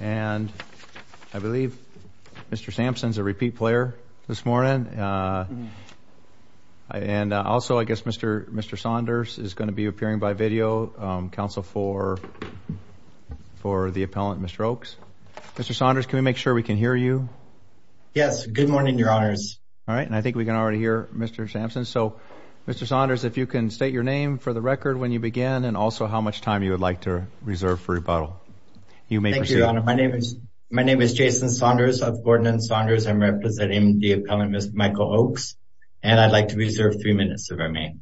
And I believe Mr. Sampson's a repeat player this morning. And also, I guess Mr. Saunders is going to be appearing by video, counsel for the appellant, Mr. Oakes. Mr. Saunders, can we make sure we can hear you? Yes, good morning, Your Honors. All right, and I think we can already hear Mr. Sampson. So Mr. Saunders, if you can state your name for the record when you begin, and also how much time you would like to reserve for rebuttal. You may proceed. Thank you, Your Honor. My name is Jason Saunders, I've boarded in Saunders. I'm representing the appellant, Mr. Michael Oakes. And I'd like to reserve three minutes to remain.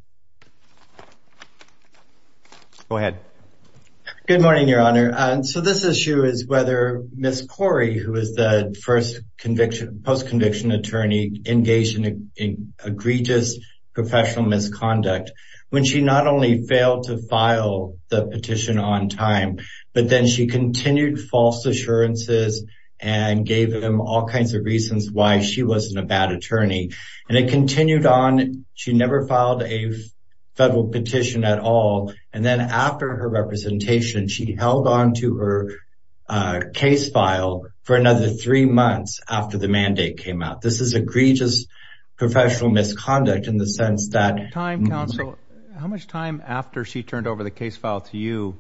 Go ahead. Good morning, Your Honor. So this issue is whether Ms. Corey, who is the first post-conviction attorney, engaged in egregious professional misconduct, when she not only failed to file the petition on time, but then she continued false assurances and gave them all kinds of reasons why she wasn't a bad attorney. And it continued on, she never filed a federal petition at all. And then after her representation, she held on to her case file for another three months after the mandate came out. This is egregious professional misconduct in the sense that- Time, counsel. How much time after she turned over the case file to you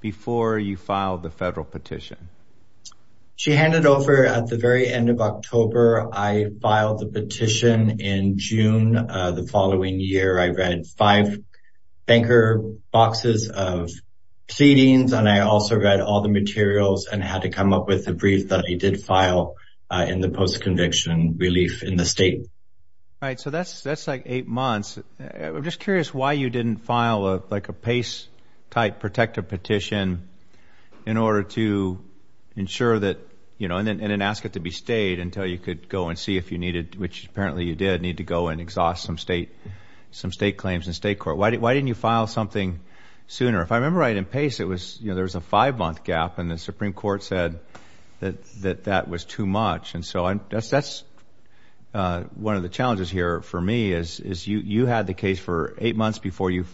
before you filed the federal petition? She handed over at the very end of October. I filed the petition in June of the following year. I read five banker boxes of pleadings, and I also read all the materials and had to come up with a brief that I did file in the post-conviction relief in the state. Right, so that's like eight months. I'm just curious why you didn't file like a PACE-type protective petition in order to ensure that, and then ask it to be stayed until you could go and see if you needed, which apparently you did, need to go and exhaust some state claims in state court. Why didn't you file something sooner? If I remember right, in PACE, there was a five-month gap, and the Supreme Court said that that was too much. And so that's one of the challenges here for me is you had the case for eight months before you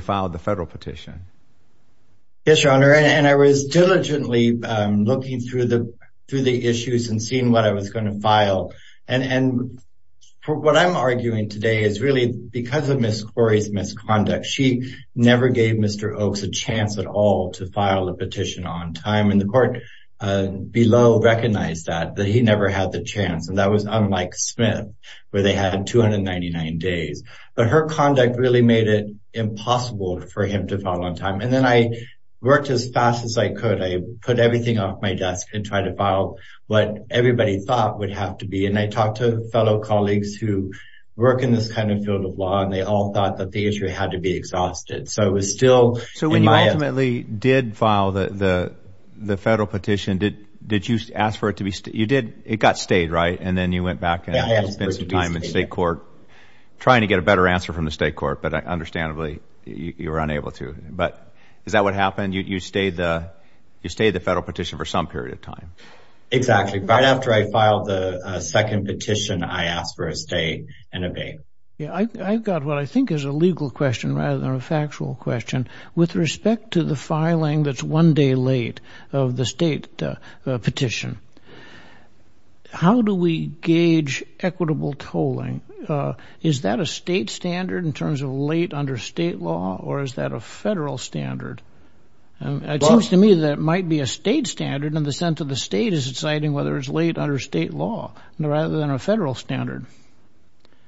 filed the federal petition. Yes, Your Honor, and I was diligently looking through the issues and seeing what I was going to file. And what I'm arguing today is really, because of Ms. Corey's misconduct, she never gave Mr. Oaks a chance at all to file a petition on time, and the court below recognized that, that he never had the chance, and that was on Mike Smith, where they had 299 days. But her conduct really made it impossible for him to file on time. And then I worked as fast as I could. I put everything off my desk and tried to file what everybody thought would have to be. And I talked to fellow colleagues who work in this kind of field of law, and they all thought that the issue had to be exhausted. So it was still- So when you ultimately did file the federal petition, did you ask for it to be, you did, it got stayed, right? And then you went back and spent some time in state court trying to get a better answer from the state court, but understandably, you were unable to. But is that what happened? You stayed the federal petition for some period of time. Exactly. Right after I filed the second petition, I asked for a stay and a bail. Yeah, I've got what I think is a legal question rather than a factual question. With respect to the filing that's one day late of the state petition, how do we gauge equitable tolling? Is that a state standard in terms of late under state law, or is that a federal standard? It seems to me that it might be a state standard in the sense of the state is deciding whether it's late under state law rather than a federal standard.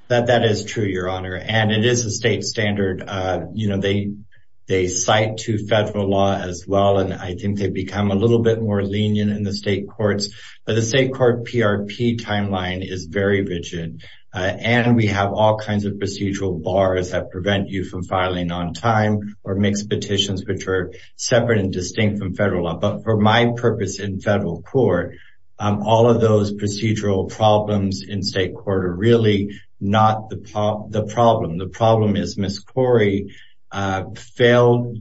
That is true, Your Honor. And it is a state standard. You know, they cite to federal law as well. And I think they've become a little bit more lenient in the state courts. But the state court PRP timeline is very rigid. And we have all kinds of procedural bars that prevent you from filing on time or mixed petitions, which are separate and distinct from federal law. But for my purpose in federal court, all of those procedural problems in state court are really not the problem. The problem is Ms. Corey failed.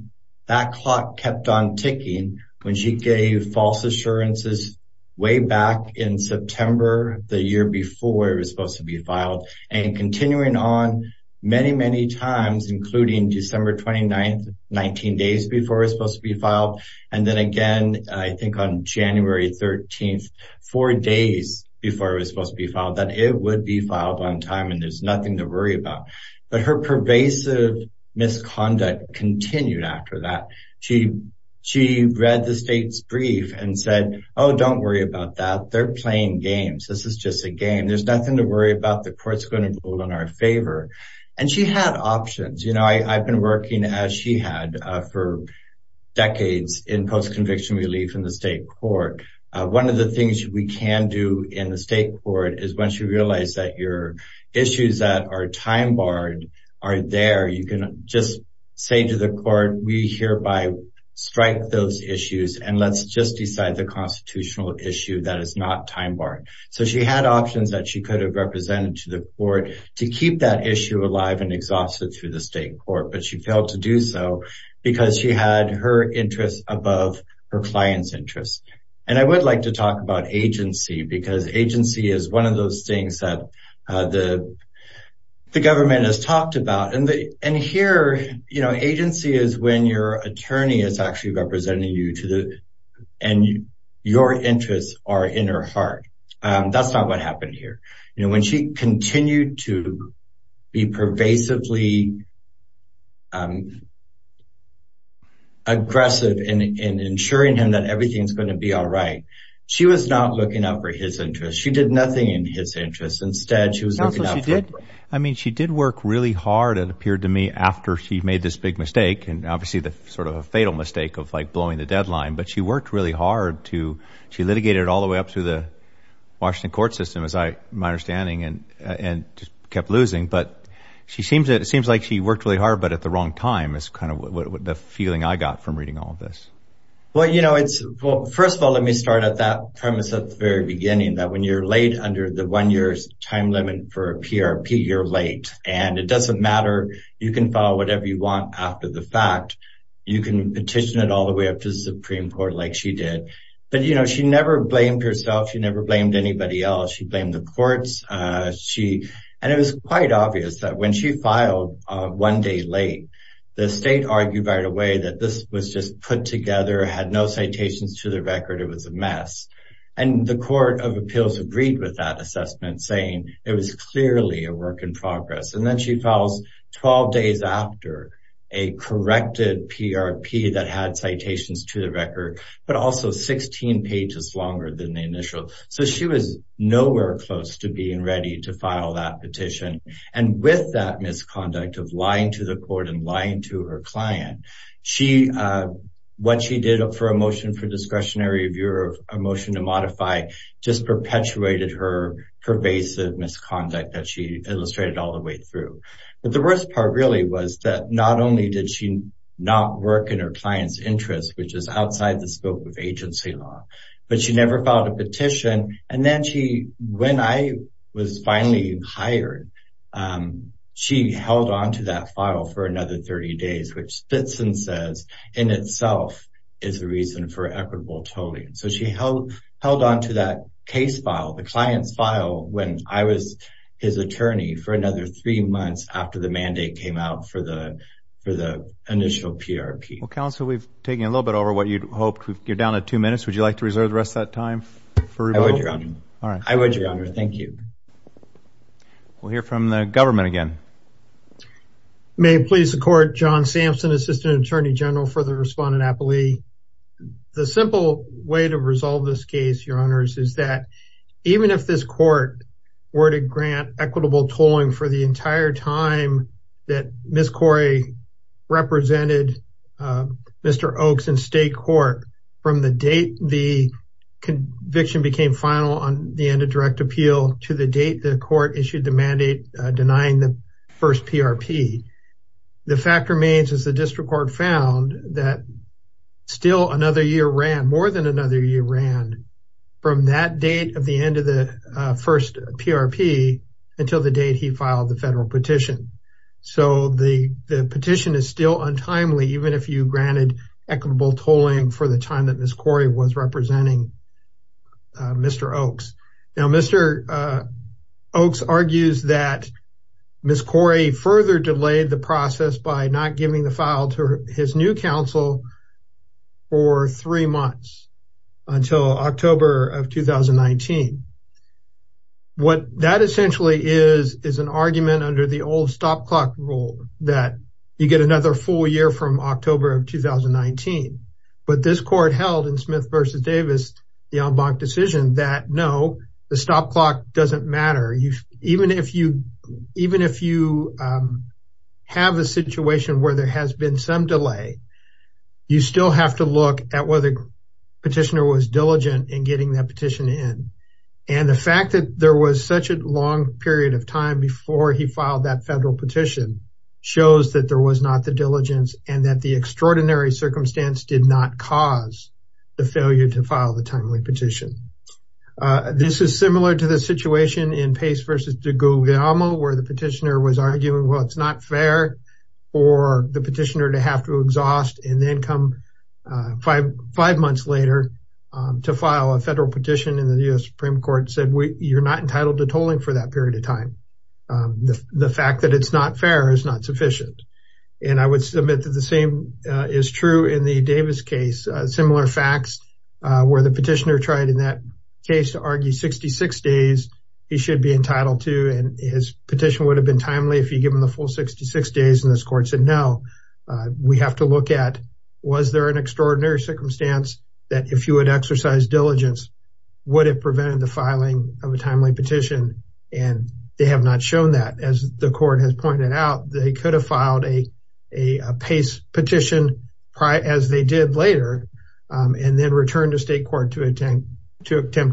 That clock kept on ticking when she gave false assurances way back in September, the year before it was supposed to be filed and continuing on many, many times, including December 29th, 19 days before it was supposed to be filed. And then again, I think on January 13th, four days before it was supposed to be filed that it would be filed on time and there's nothing to worry about. But her pervasive misconduct continued after that. She read the state's brief and said, oh, don't worry about that. They're playing games. This is just a game. There's nothing to worry about. The court's gonna rule in our favor. And she had options. You know, I've been working as she had for decades in post-conviction relief in the state court. One of the things we can do in the state court is once you realize that your issues that are time barred are there, you can just say to the court, we hereby strike those issues and let's just decide the constitutional issue that is not time barred. So she had options that she could have represented to the court to keep that issue alive and exhausted through the state court, but she failed to do so because she had her interests above her client's interests. And I would like to talk about agency because agency is one of those things that the government has talked about. And here, you know, agency is when your attorney is actually representing you and your interests are in her heart. That's not what happened here. You know, when she continued to be pervasively aggressive in ensuring him that everything's gonna be all right, she was not looking out for his interests. She did nothing in his interests. Instead, she was looking out for- I mean, she did work really hard, it appeared to me, after she made this big mistake and obviously the sort of a fatal mistake of like blowing the deadline, but she worked really hard to, she litigated all the way up through the Washington court system, as my understanding, and just kept losing. But it seems like she worked really hard, but at the wrong time is kind of the feeling I got from reading all of this. Well, you know, first of all, let me start at that premise at the very beginning, that when you're late under the one year's time limit for a PRP, you're late. And it doesn't matter. You can file whatever you want after the fact. You can petition it all the way up to the Supreme Court, like she did. But, you know, she never blamed herself. She never blamed anybody else. She blamed the courts. She, and it was quite obvious that when she filed one day late, the state argued right away that this was just put together, had no citations to the record. It was a mess. And the court of appeals agreed with that assessment, saying it was clearly a work in progress. And then she files 12 days after a corrected PRP that had citations to the record, but also 16 pages longer than the initial. So she was nowhere close to being ready to file that petition. And with that misconduct of lying to the court and lying to her client, what she did for a motion for discretionary review or a motion to modify, just perpetuated her pervasive misconduct that she illustrated all the way through. But the worst part really was that not only did she not work in her client's interest, which is outside the scope of agency law, but she never filed a petition. And then she, when I was finally hired, she held onto that file for another 30 days, which fits and says in itself is the reason for equitable tolling. So she held onto that case file, the client's file when I was his attorney for another three months after the mandate came out for the initial PRP. Well, counsel, we've taken a little bit over what you'd hoped. You're down to two minutes. Would you like to reserve the rest of that time for rebuttal? I would, your honor. All right. I would, your honor. Thank you. We'll hear from the government again. May it please the court, John Sampson, Assistant Attorney General for the Respondent Appellee. The simple way to resolve this case, your honors, is that even if this court were to grant equitable tolling for the entire time that Ms. Corey represented Mr. Oaks in state court from the date the conviction became final on the end of direct appeal to the date the court issued the mandate denying the first PRP, the fact remains as the district court found that still another year ran, more than another year ran from that date of the end of the first PRP until the date he filed the federal petition. So the petition is still untimely even if you granted equitable tolling for the time that Ms. Corey was representing Mr. Oaks. Now, Mr. Oaks argues that Ms. Corey further delayed the process by not giving the file to his new counsel for three months until October of 2019. What that essentially is, is an argument under the old stop clock rule that you get another full year from October of 2019. But this court held in Smith v. Davis, the en banc decision, that no, the stop clock doesn't matter. Even if you have a situation where there has been some delay, you still have to look at whether petitioner was diligent in getting that petition in. And the fact that there was such a long period of time before he filed that federal petition shows that there was not the diligence and that the extraordinary circumstance did not cause the failure to file the timely petition. This is similar to the situation in Pace v. DeGilgamo where the petitioner was arguing, well, it's not fair for the petitioner to have to exhaust and then come five months later to file a federal petition and the U.S. Supreme Court said, you're not entitled to tolling for that period of time. The fact that it's not fair is not sufficient. And I would submit that the same is true in the Davis case, similar facts where the petitioner tried in that case to argue 66 days, he should be entitled to and his petition would have been timely if you give him the full 66 days and this court said, no, we have to look at, was there an extraordinary circumstance that if you had exercised diligence, would it prevent the filing of a timely petition? And they have not shown that as the court has pointed out, they could have filed a Pace petition as they did later and then returned to state court to attempt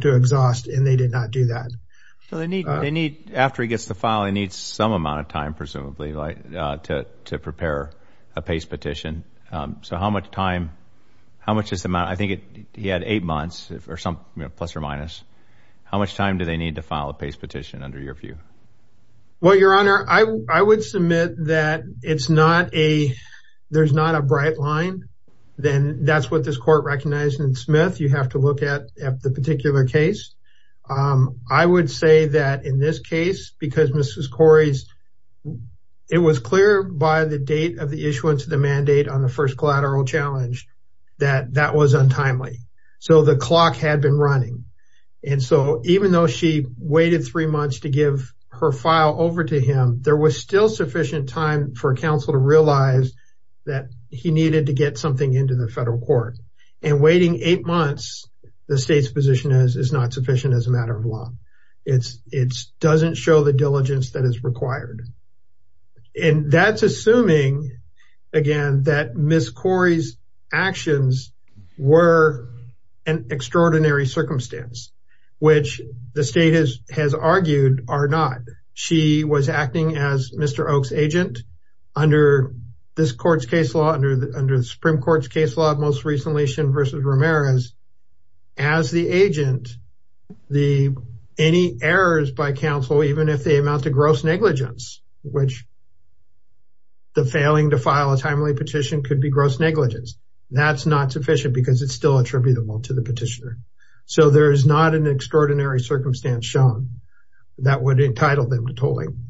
to exhaust and they did not do that. So they need, after he gets the file, he needs some amount of time presumably to prepare a Pace petition. So how much time, how much is the amount? I think he had eight months or some plus or minus. How much time do they need to file a Pace petition under your view? Well, your honor, I would submit that it's not a, there's not a bright line. Then that's what this court recognized in Smith. You have to look at the particular case. I would say that in this case, because Mrs. Corey's, it was clear by the date of the issuance of the mandate on the first collateral challenge that that was untimely. So the clock had been running. And so even though she waited three months to give her file over to him, there was still sufficient time for counsel to realize that he needed to get something into the federal court. And waiting eight months, the state's position is it's not sufficient as a matter of law. It doesn't show the diligence that is required. And that's assuming, again, that Mrs. Corey's actions were an extraordinary circumstance, which the state has argued are not. She was acting as Mr. Oak's agent under this court's case law, under the Supreme Court's case law, most recently Shin v. Ramirez, as the agent, any errors by counsel, even if they amount to gross negligence, which the failing to file a timely petition could be gross negligence, that's not sufficient because it's still attributable to the petitioner. So there is not an extraordinary circumstance shown that would entitle them to tolling.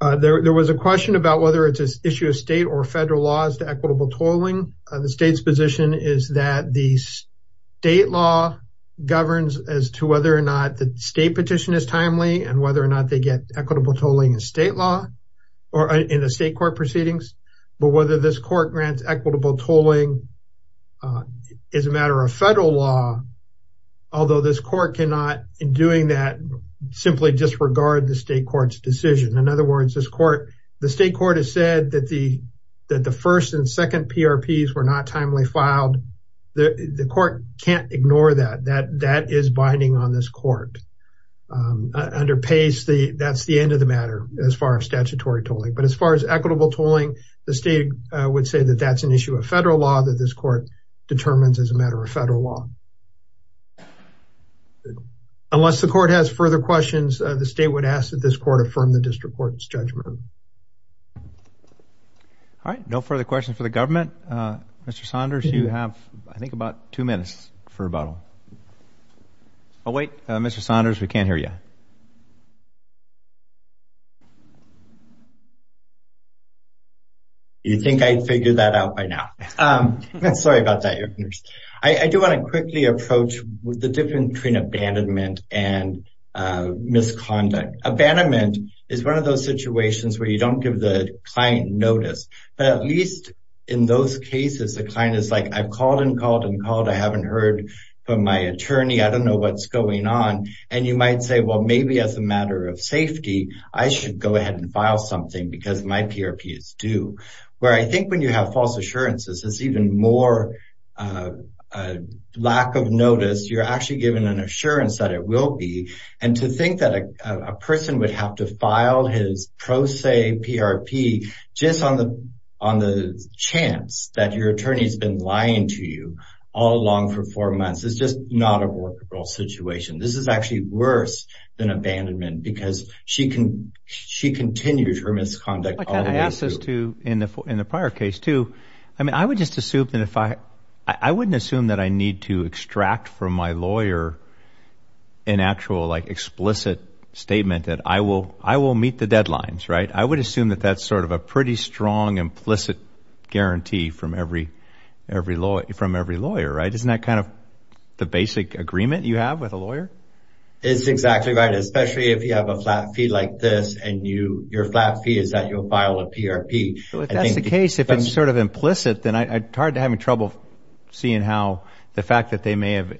There was a question about whether it's an issue of state or federal laws to equitable tolling. The state's position is that the state law governs as to whether or not the state petition is timely and whether or not they get equitable tolling in state law or in the state court proceedings, but whether this court grants equitable tolling as a matter of federal law, although this court cannot, in doing that, simply disregard the state court's decision. In other words, this court, the state court has said that the first and second PRPs were not timely filed. The court can't ignore that, that is binding on this court. Under PACE, that's the end of the matter as far as statutory tolling, but as far as equitable tolling, the state would say that that's an issue of federal law that this court determines as a matter of federal law. Unless the court has further questions, the state would ask that this court affirm the district court's judgment. All right, no further questions for the government. Mr. Saunders, you have, I think, about two minutes for rebuttal. Oh, wait, Mr. Saunders, we can't hear you. You think I'd figure that out by now? Sorry about that, Your Honors. I do want to quickly, I want to quickly approach the difference between abandonment and misconduct. Abandonment is one of those situations where you don't give the client notice, but at least in those cases, the client is like, I've called and called and called, I haven't heard from my attorney, I don't know what's going on. And you might say, well, maybe as a matter of safety, I should go ahead and file something because my PRP is due. Where I think when you have false assurances, it's even more lack of notice, you're actually given an assurance that it will be. And to think that a person would have to file his pro se PRP just on the chance that your attorney's been lying to you all along for four months, it's just not a workable situation. This is actually worse than abandonment because she continues her misconduct all the way through. I kind of ask this too, in the prior case too, I mean, I would just assume that if I, I wouldn't assume that I need to extract from my lawyer an actual like explicit statement that I will meet the deadlines, right? I would assume that that's sort of a pretty strong implicit guarantee from every lawyer, right? Isn't that kind of the basic agreement you have with a lawyer? It's exactly right, especially if you have a flat fee like this and your flat fee is that you'll file a PRP. If that's the case, if it's sort of implicit, then I'm tired of having trouble seeing how the fact that they may have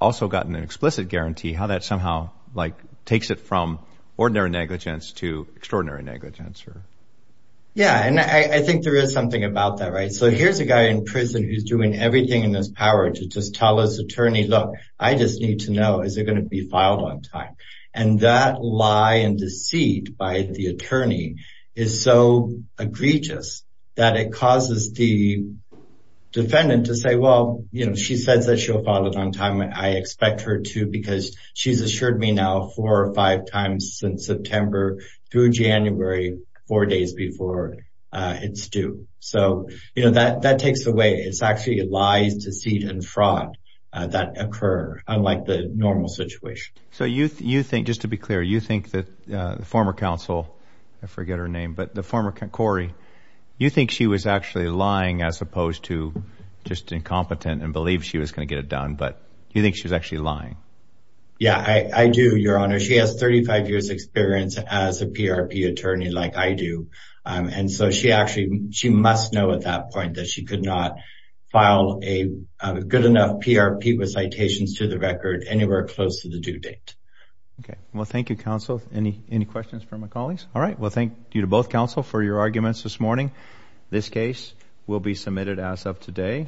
also gotten an explicit guarantee, how that somehow like takes it from ordinary negligence to extraordinary negligence or... Yeah, and I think there is something about that, right? So here's a guy in prison who's doing everything in his power to just tell his attorney, look, I just need to know, is it going to be filed on time? And that lie and deceit by the attorney is so egregious that it causes the defendant to say, well, she says that she'll file it on time, I expect her to because she's assured me now four or five times since September through January, four days before it's due. So that takes away, it's actually lies, deceit and fraud that occur unlike the normal situation. So you think, just to be clear, you think that the former counsel, I forget her name, but the former, Corey, you think she was actually lying as opposed to just incompetent and believed she was going to get it done, but you think she was actually lying? Yeah, I do, Your Honor. She has 35 years experience as a PRP attorney like I do. And so she actually, she must know at that point that she could not file a good enough PRP with citations to the record anywhere close to the due date. Okay, well, thank you, counsel. Any questions for my colleagues? All right, well, thank you to both counsel for your arguments this morning. This case will be submitted as of today.